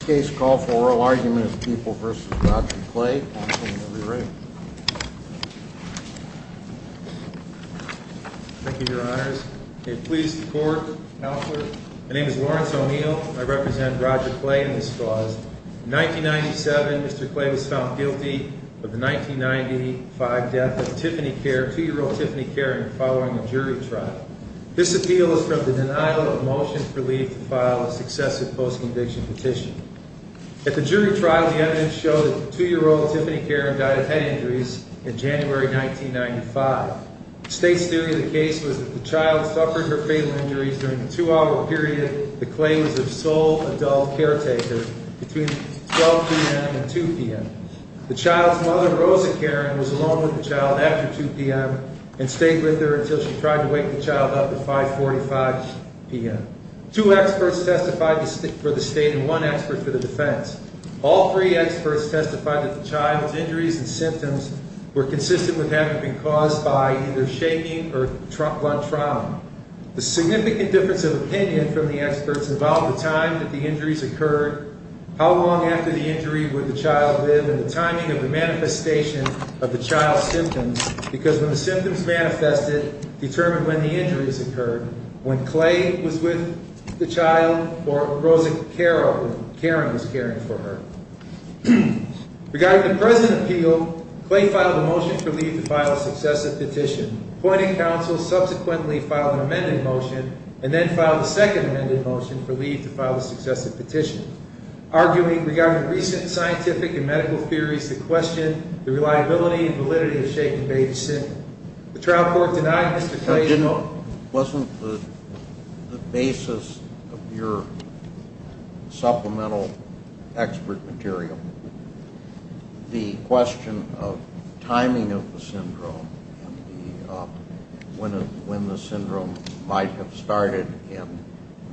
Case call for oral argument is People v. Roger Clay, and I'm going to let him re-read. Thank you, your honors. May it please the court. Counselor, my name is Lawrence O'Neill. I represent Roger Clay in this cause. In 1997, Mr. Clay was found guilty of the 1995 death of Tiffany Kerr, 2-year-old Tiffany Kerr, in following a jury trial. This appeal is from the denial of a motion for leave to file a successive post-conviction petition. At the jury trial, the evidence showed that 2-year-old Tiffany Kerr died of head injuries in January 1995. The state's theory of the case was that the child suffered her fatal injuries during the two-hour period that Clay was a sole adult caretaker, between 12 p.m. and 2 p.m. The child's mother, Rosa Karen, was alone with the child after 2 p.m. and stayed with her until she tried to wake the child up at 5.45 p.m. Two experts testified for the state and one expert for the defense. All three experts testified that the child's injuries and symptoms were consistent with having been caused by either shaking or blunt trauma. The significant difference of opinion from the experts involved the time that the injuries occurred, how long after the injury would the child live, and the timing of the manifestation of the child's symptoms, because when the symptoms manifested determined when the injuries occurred, when Clay was with the child or Rosa Karen was caring for her. Regarding the present appeal, Clay filed a motion for leave to file a successive petition. Appointing counsel subsequently filed an amended motion and then filed a second amended motion for leave to file a successive petition. Arguing regarding recent scientific and medical theories that question the reliability and validity of shake and bathe syndrome. The trial court denied Mr. Clay's... Wasn't the basis of your supplemental expert material the question of timing of the syndrome when the syndrome might have started and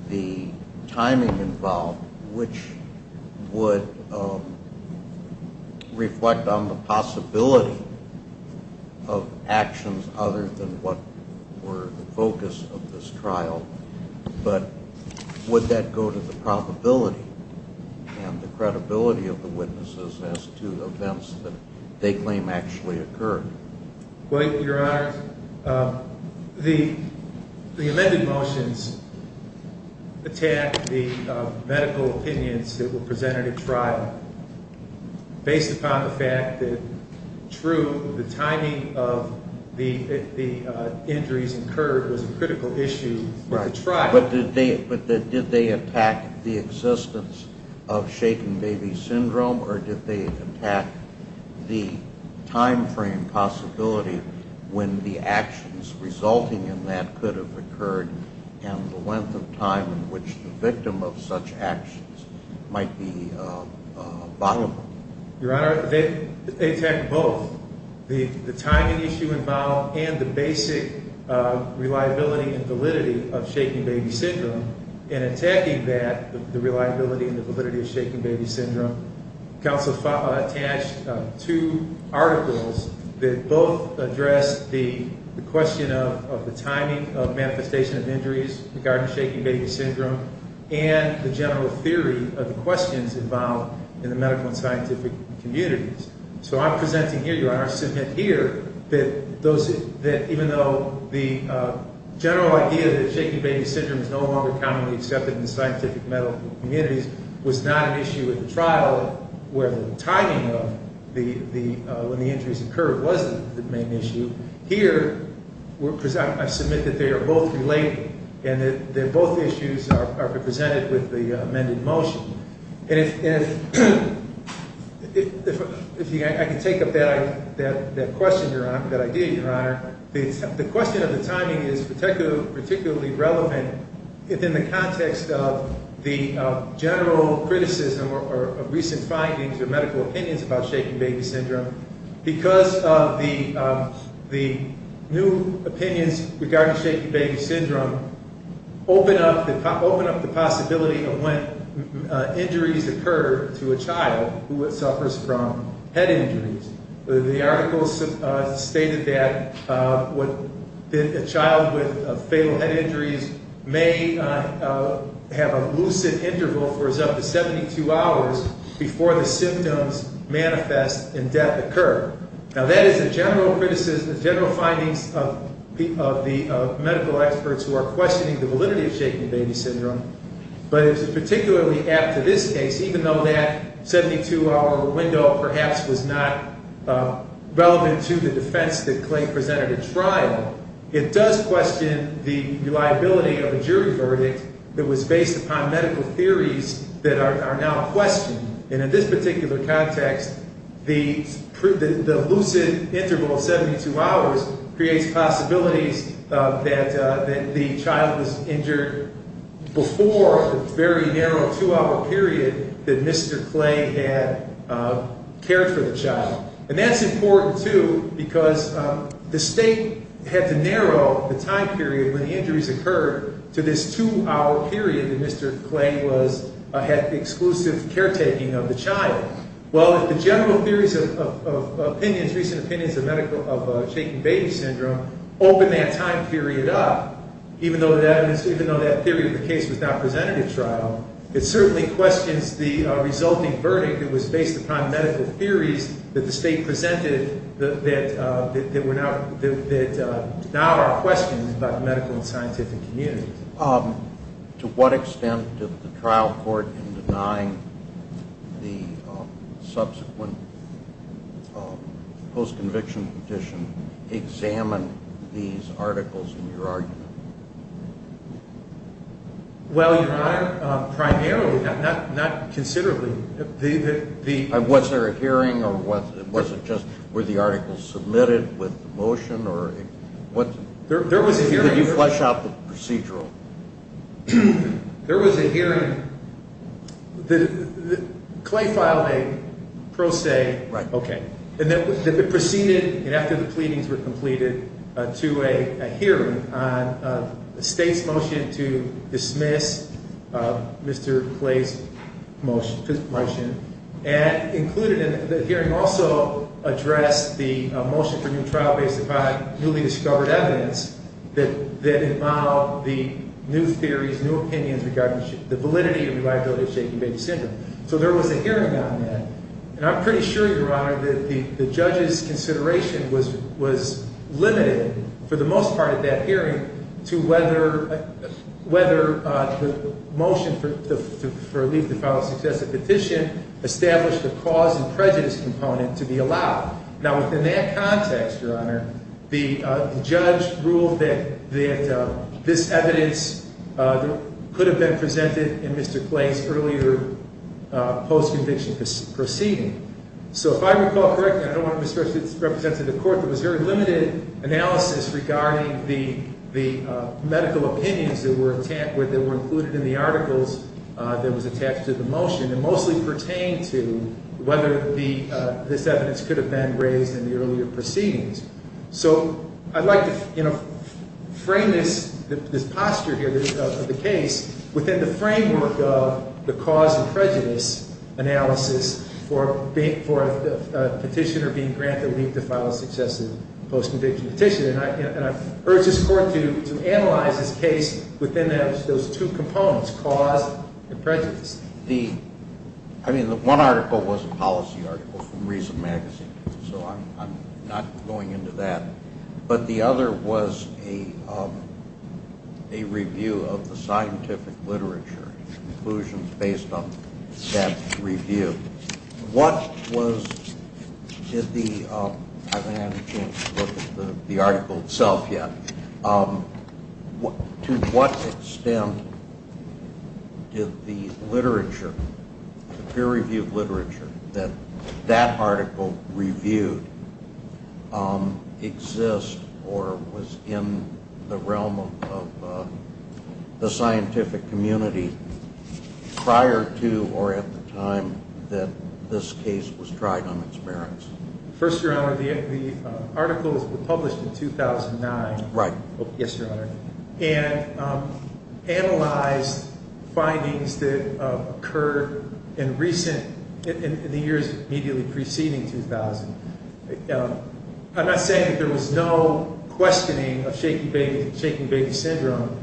the timing involved which would reflect on the possibility of actions other than what were the focus of this trial, but would that go to the probability and the credibility of the witnesses as to events that they claim actually occurred? Your Honor, the amended motions attacked the medical opinions that were presented at trial based upon the fact that true, the timing of the injuries incurred was a critical issue for the trial. But did they attack the existence of shake and baby syndrome, or did they attack the time frame possibility when the actions resulting in that could have occurred and the length of time in which the victim of such actions might be viable? Your Honor, they attacked both. The timing issue involved and the basic reliability and validity of shake and baby syndrome. In attacking that, the reliability and the validity of shake and baby syndrome, counsel attached two articles that both addressed the question of the timing of manifestation of injuries regarding shake and baby syndrome and the general theory of the questions involved in the medical and scientific communities. So I'm presenting here, Your Honor, I submit here that even though the general idea that shake and baby syndrome is no longer commonly accepted in the scientific medical communities was not an issue at the trial where the timing of when the injuries occurred wasn't the main issue, here I submit that they are both related and that both issues are represented with the amended motion. And if I can take up that idea, Your Honor, the question of the timing is particularly relevant if in the context of the general criticism or recent findings or medical opinions about shake and baby syndrome because of the new opinions regarding shake and baby syndrome open up the possibility of when injuries occur to a child who suffers from head injuries. The article stated that a child with fatal head injuries may have a lucid interval for as up to 72 hours before the symptoms manifest and death occur. Now that is a general criticism, general findings of the medical experts who are questioning the validity of shake and baby syndrome, but particularly after this case, even though that 72-hour window perhaps was not relevant to the defense that Clay presented at trial, it does question the reliability of a jury verdict that was based upon medical theories that are now a question. And in this particular context, the lucid interval of 72 hours creates possibilities that the child was injured before the very narrow two-hour period that Mr. Clay had cared for the child. And that's important, too, because the state had to narrow the time period when the injuries occurred to this two-hour period that Mr. Clay had exclusive caretaking of the child. Well, if the general theories of opinions, recent opinions of shake and baby syndrome open that time period up, even though that theory of the case was not presented at trial, it certainly questions the resulting verdict that was based upon medical theories that the state presented that now are questions about medical and scientific communities. To what extent did the trial court, in denying the subsequent post-conviction petition, examine these articles in your argument? Well, Your Honor, primarily, not considerably. Was there a hearing or was it just were the articles submitted with the motion or what? There was a hearing. Did you flesh out the procedural? There was a hearing. Clay filed a pro se. Right. The state's motion to dismiss Mr. Clay's motion and included in the hearing also addressed the motion for new trial based upon newly discovered evidence that involved the new theories, new opinions regarding the validity and reliability of shake and baby syndrome. So there was a hearing on that. And I'm pretty sure, Your Honor, that the judge's consideration was limited, for the most part at that hearing, to whether the motion for a leave to file a successive petition established the cause and prejudice component to be allowed. Now, within that context, Your Honor, the judge ruled that this evidence could have been presented in Mr. Clay's earlier post-conviction proceeding. So if I recall correctly, I don't want to misrepresent the court, there was very limited analysis regarding the medical opinions that were included in the articles that was attached to the motion and mostly pertained to whether this evidence could have been raised in the earlier proceedings. So I'd like to frame this posture here of the case within the framework of the cause and prejudice analysis for a petitioner being granted leave to file a successive post-conviction petition. And I urge this court to analyze this case within those two components, cause and prejudice. I mean, one article was a policy article from Reason Magazine, so I'm not going into that. But the other was a review of the scientific literature, conclusions based on that review. I haven't had a chance to look at the article itself yet. To what extent did the literature, the peer-reviewed literature that that article reviewed exist or was in the realm of the scientific community prior to or at the time that this case was tried on its merits? First, Your Honor, the article was published in 2009. Right. Yes, Your Honor. And analyzed findings that occurred in recent, in the years immediately preceding 2000. I'm not saying that there was no questioning of shaking baby syndrome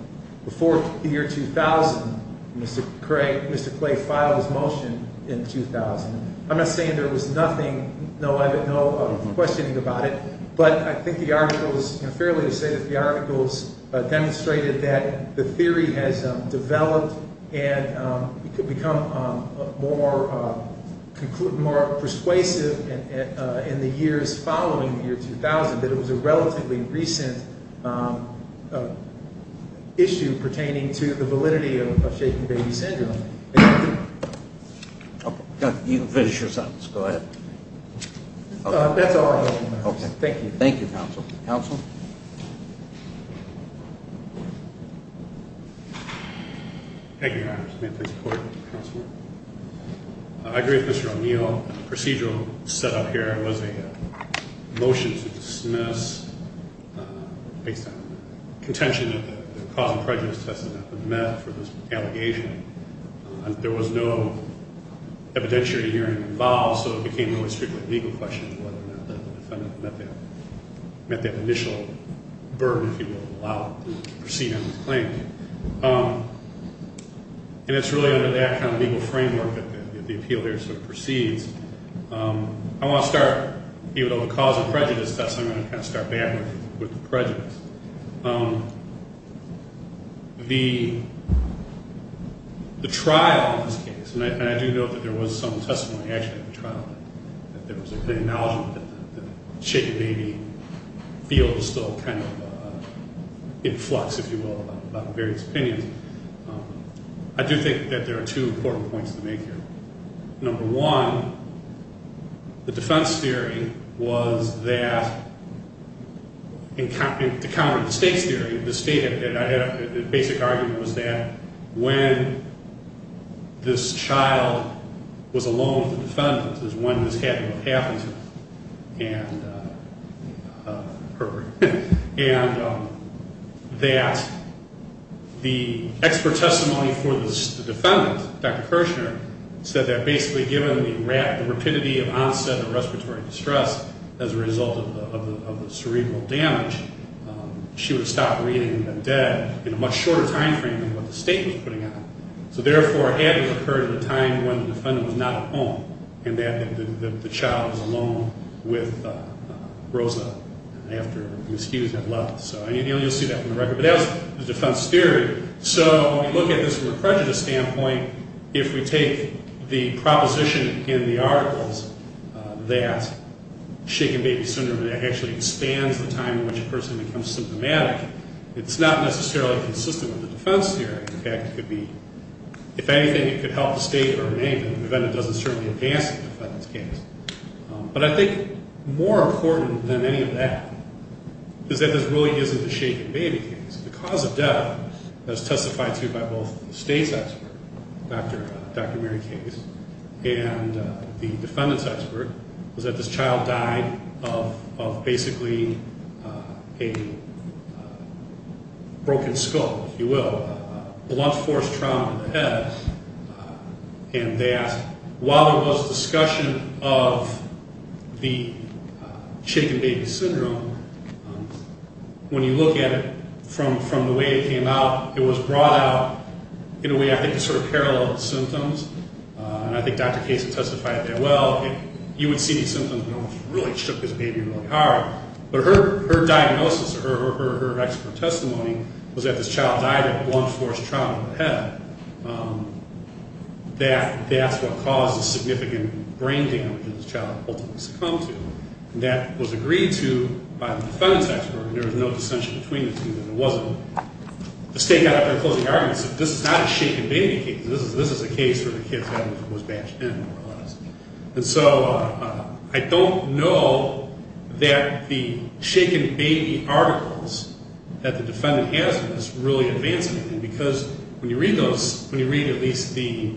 before the year 2000. Mr. Clay filed his motion in 2000. I'm not saying there was nothing, no questioning about it. But I think the articles, fairly to say that the articles demonstrated that the theory has developed and could become more persuasive in the years following the year 2000, that it was a relatively recent issue pertaining to the validity of shaking baby syndrome. You can finish your sentence. Go ahead. That's all I have for now. Okay. Thank you. Thank you, Counsel. Counsel? Thank you, Your Honor. May I please report, Counselor? I agree with Mr. O'Neill. The procedural setup here was a motion to dismiss based on contention that the cause of prejudice test has not been met for this allegation. There was no evidentiary hearing involved, so it became really strictly a legal question whether or not the defendant met that initial burden, if you will, to allow him to proceed on his claim. And it's really under that kind of legal framework that the appeal here sort of proceeds. I want to start, even though the cause of prejudice test, I'm going to kind of start back with the prejudice. The trial in this case, and I do note that there was some testimony actually at the trial that there was an acknowledgment that the shaking baby field was still kind of in flux, if you will, about various opinions. I do think that there are two important points to make here. Number one, the defense theory was that, to counter the state's theory, the state had a basic argument was that when this child was alone with the defendant is when this happened with Hathaway and her. And that the expert testimony for the defendant, Dr. Kirshner, said that basically given the rapidity of onset of respiratory distress as a result of the cerebral damage, she would stop reading the dead in a much shorter time frame than what the state was putting out. So therefore, it had to have occurred at a time when the defendant was not at home and that the child was alone with Rosa after Ms. Hughes had left. So you'll see that from the record. But that was the defense theory. So when we look at this from a prejudice standpoint, if we take the proposition in the articles that shaking baby syndrome actually expands the time in which a person becomes symptomatic, it's not necessarily consistent with the defense theory. In fact, it could be, if anything, it could help the state or remain, but then it doesn't certainly advance the defendant's case. But I think more important than any of that is that this really isn't a shaken baby case. The cause of death that was testified to by both the state's expert, Dr. Mary Case, and the defendant's expert was that this child died of basically a broken skull, if you will, a blunt force trauma to the head. And they asked, while there was discussion of the shaken baby syndrome, when you look at it from the way it came out, it was brought out in a way I think is sort of parallel to the symptoms. And I think Dr. Case testified there, well, you would see these symptoms that almost really shook this baby really hard. But her diagnosis or her expert testimony was that this child died of a blunt force trauma to the head. That's what caused the significant brain damage that this child ultimately succumbed to. And that was agreed to by the defendant's expert, and there was no dissension between the two. The state got up there and closed the argument and said, this is not a shaken baby case. This is a case where the kid was batched in, more or less. And so I don't know that the shaken baby articles that the defendant has in this really advance anything, because when you read those, when you read at least the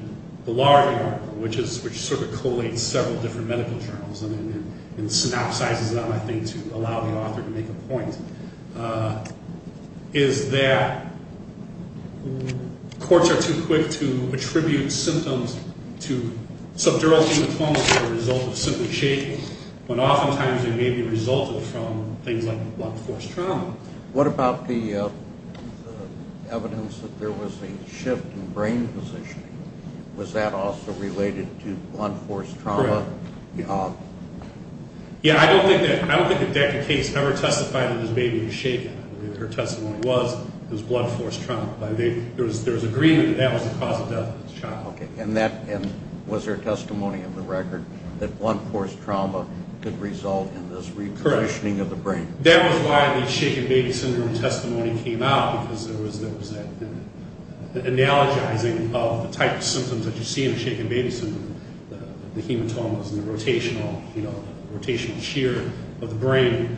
larger article, which sort of collates several different medical journals and synopsizes them, I think to allow the author to make a point, is that courts are too quick to attribute symptoms to subdural hematomas as a result of simply shaking, when oftentimes they may be resulted from things like blunt force trauma. What about the evidence that there was a shift in brain positioning? Was that also related to blunt force trauma? Yeah, I don't think that the case ever testified that this baby was shaken. Her testimony was it was blunt force trauma. There was agreement that that was the cause of death of this child. Okay, and was there testimony in the record that blunt force trauma could result in this reconditioning of the brain? That was why the shaken baby syndrome testimony came out, because there was an analogizing of the type of symptoms that you see in shaken baby syndrome, the hematomas and the rotational shear of the brain.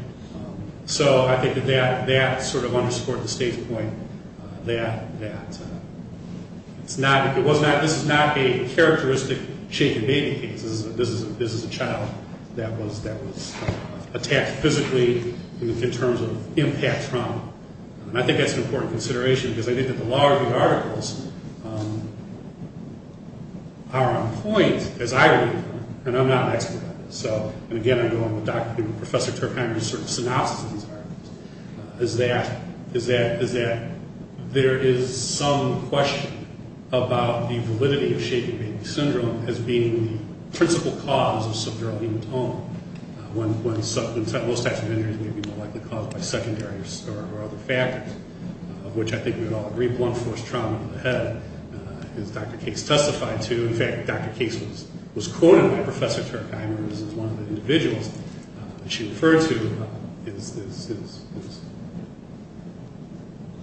So I think that that sort of underscored the state's point that this is not a characteristic shaken baby case. This is a child that was attacked physically in terms of impact trauma. And I think that's an important consideration, because I think that the law review articles are on point, as I read them, and I'm not an expert on this. So, and again, I go on with Dr. and Professor Turkheimer's sort of synopsis of these articles, is that there is some question about the validity of shaken baby syndrome as being the principal cause of subdural hematoma, when those types of injuries may be more likely caused by secondary or other factors, of which I think we would all agree blunt force trauma of the head, as Dr. Case testified to. In fact, Dr. Case was quoted by Professor Turkheimer as one of the individuals that she referred to as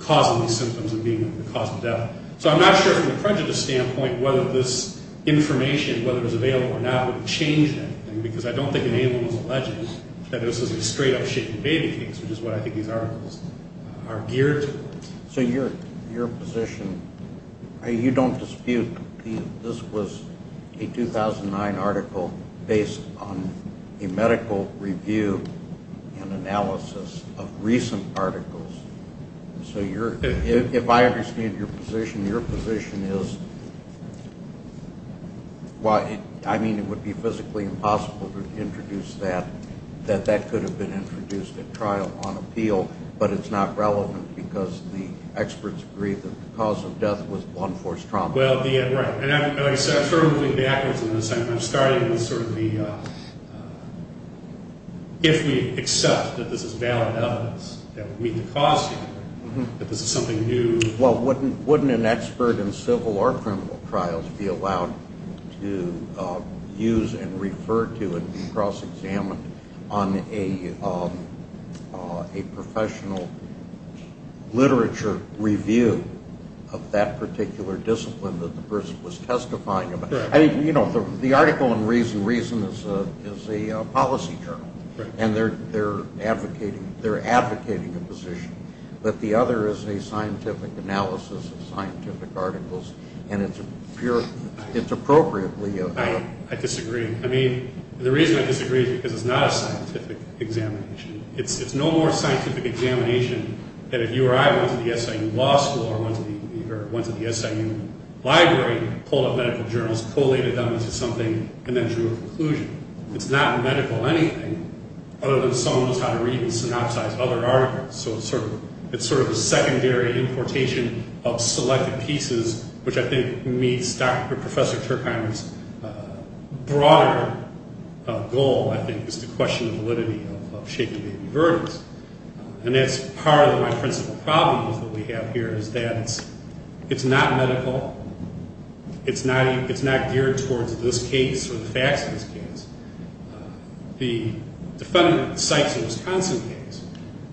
causing these symptoms and being the cause of death. So I'm not sure from a prejudice standpoint whether this information, whether it was available or not, would change anything, because I don't think it was alleged that this was a straight-up shaken baby case, which is what I think these articles are geared towards. So your position, you don't dispute this was a 2009 article based on a medical review and analysis of recent articles. So if I understand your position, your position is, I mean, it would be physically impossible to introduce that, that that could have been introduced at trial on appeal, but it's not relevant because the experts agree that the cause of death was blunt force trauma. Well, right. And like I said, I'm sort of moving backwards in this. I'm starting with sort of the if we accept that this is valid evidence that would meet the cause standard, that this is something new. Well, wouldn't an expert in civil or criminal trials be allowed to use and refer to and be cross-examined on a professional literature review of that particular discipline that the person was testifying about? I mean, you know, the article in Reason Reason is a policy journal, and they're advocating a position, but the other is a scientific analysis of scientific articles, and it's appropriately- I disagree. I mean, the reason I disagree is because it's not a scientific examination. It's no more a scientific examination than if you or I went to the SIU Law School or went to the SIU Library, pulled up medical journals, collated them into something, and then drew a conclusion. It's not medical anything other than someone knows how to read and synopsize other articles. So it's sort of a secondary importation of selected pieces, which I think meets Dr. and Professor Turkheimer's broader goal, I think, is to question the validity of shaken baby verdicts. And that's part of my principal problem with what we have here is that it's not medical. It's not geared towards this case or the facts of this case. The defendant cites a Wisconsin case,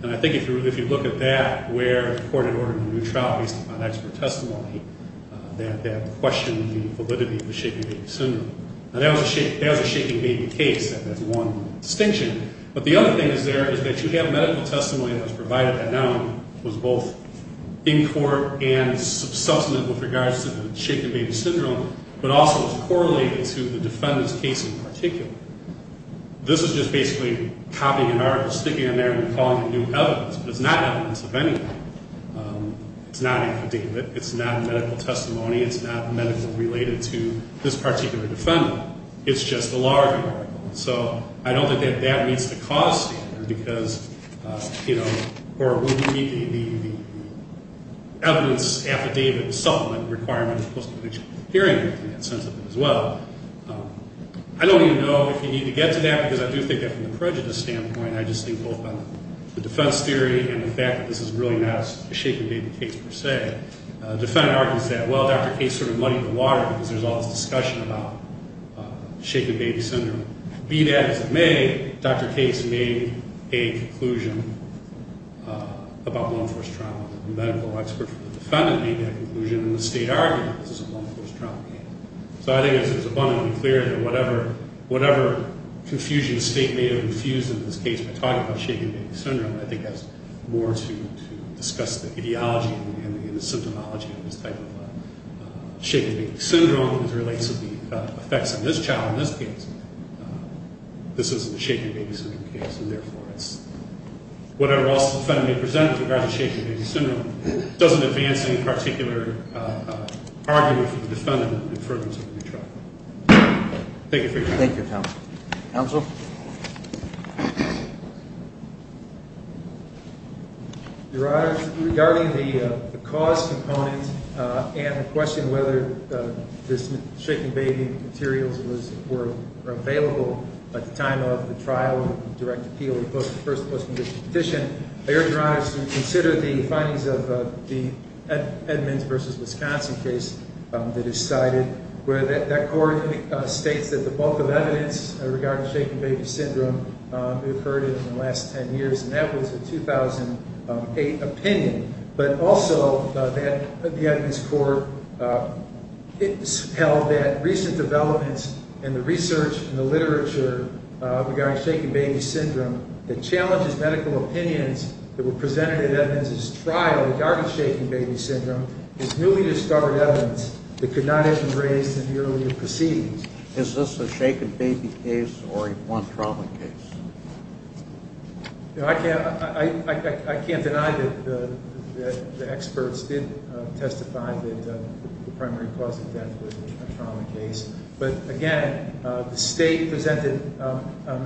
and I think if you look at that, where the court had ordered a new trial based upon expert testimony, that questioned the validity of the shaken baby syndrome. Now, that was a shaken baby case. That's one distinction. But the other thing is there is that you have medical testimony that was provided at NAMM, was both in court and substantive with regards to the shaken baby syndrome, but also is correlated to the defendant's case in particular. This is just basically copying an article, sticking it in there, and calling it new evidence. But it's not evidence of anything. It's not affidavit. It's not medical testimony. It's not medical related to this particular defendant. It's just a larger article. So I don't think that that meets the cause standard because, you know, or would we meet the evidence affidavit supplement requirement of post-conviction hearing in that sense of it as well? I don't even know if you need to get to that because I do think that from the prejudice standpoint, I just think both on the defense theory and the fact that this is really not a shaken baby case per se, the defendant argues that, well, Dr. Case sort of muddied the water because there's all this discussion about shaken baby syndrome. Be that as it may, Dr. Case made a conclusion about lone-force trauma. The medical expert from the defendant made that conclusion, and the state argued that this is a lone-force trauma case. So I think it's abundantly clear that whatever confusion the state may have infused in this case by talking about shaken baby syndrome I think has more to discuss the ideology and the symptomology of this type of shaken baby syndrome as it relates to the effects on this child in this case. This isn't a shaken baby syndrome case, and therefore it's whatever else the defendant may present with regard to shaken baby syndrome doesn't advance any particular argument from the defendant in terms of the trial. Thank you for your time. Thank you, counsel. Counsel? Your Honor, regarding the cause component and the question whether the shaken baby materials were available at the time of the trial and the direct appeal of the first post-condition petition, I urge Your Honor to consider the findings of the Edmonds v. Wisconsin case that is cited where that court states that the bulk of evidence regarding shaken baby syndrome occurred in the last 10 years, and that was a 2008 opinion. But also the Edmonds court held that recent developments in the research and the literature regarding shaken baby syndrome that challenges medical opinions that were presented at Edmonds' trial regarding shaken baby syndrome is newly discovered evidence that could not have been raised in the earlier proceedings. Is this a shaken baby case or a trauma case? I can't deny that the experts did testify that the primary cause of death was a trauma case. But, again, the State presented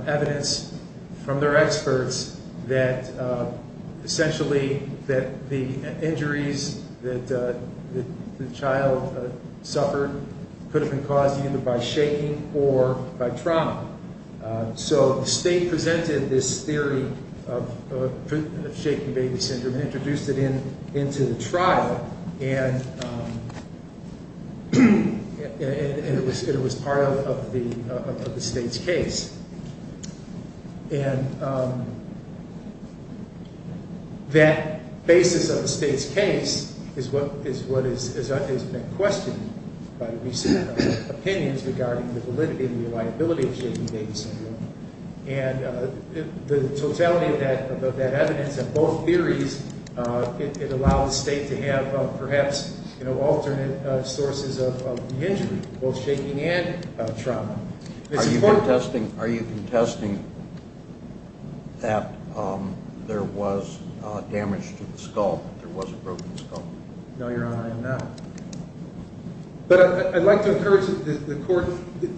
evidence from their experts that essentially the injuries that the child suffered could have been caused either by shaking or by trauma. So the State presented this theory of shaken baby syndrome and introduced it into the trial, and it was part of the State's case. And that basis of the State's case is what has been questioned by recent opinions regarding the validity and reliability of shaken baby syndrome. And the totality of that evidence and both theories, it allows the State to have, perhaps, alternate sources of the injury, both shaking and trauma. Are you contesting that there was damage to the skull, that there was a broken skull? No, Your Honor, I am not. But I'd like to encourage the court,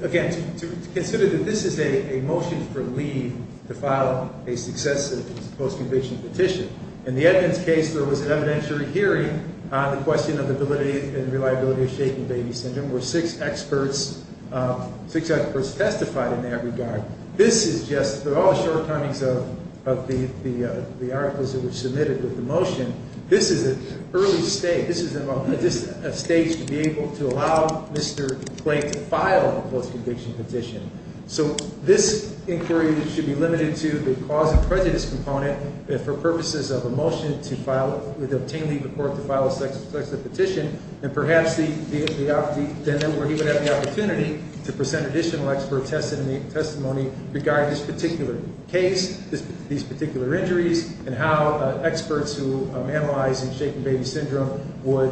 again, to consider that this is a motion for leave to file a successive post-conviction petition. In the Edmonds case, there was an evidentiary hearing on the question of the validity and reliability of shaken baby syndrome when six experts testified in that regard. This is just the shortcomings of the articles that were submitted with the motion. This is an early stage. This is a stage to be able to allow Mr. Clay to file a post-conviction petition. So this inquiry should be limited to the cause of prejudice component for purposes of a motion to file with obtaining the court to file a successive petition, and perhaps then he would have the opportunity to present additional expert testimony regarding this particular case, these particular injuries, and how experts who analyze in shaken baby syndrome would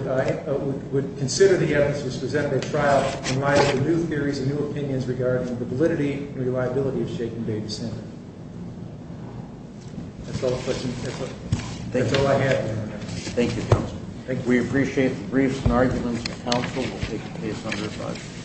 consider the evidence that was presented at trial in light of the new theories and new opinions regarding the validity and reliability of shaken baby syndrome. That's all the questions. That's all I have. Thank you, counsel. Thank you. We appreciate the briefs and arguments. Counsel will take the case under review.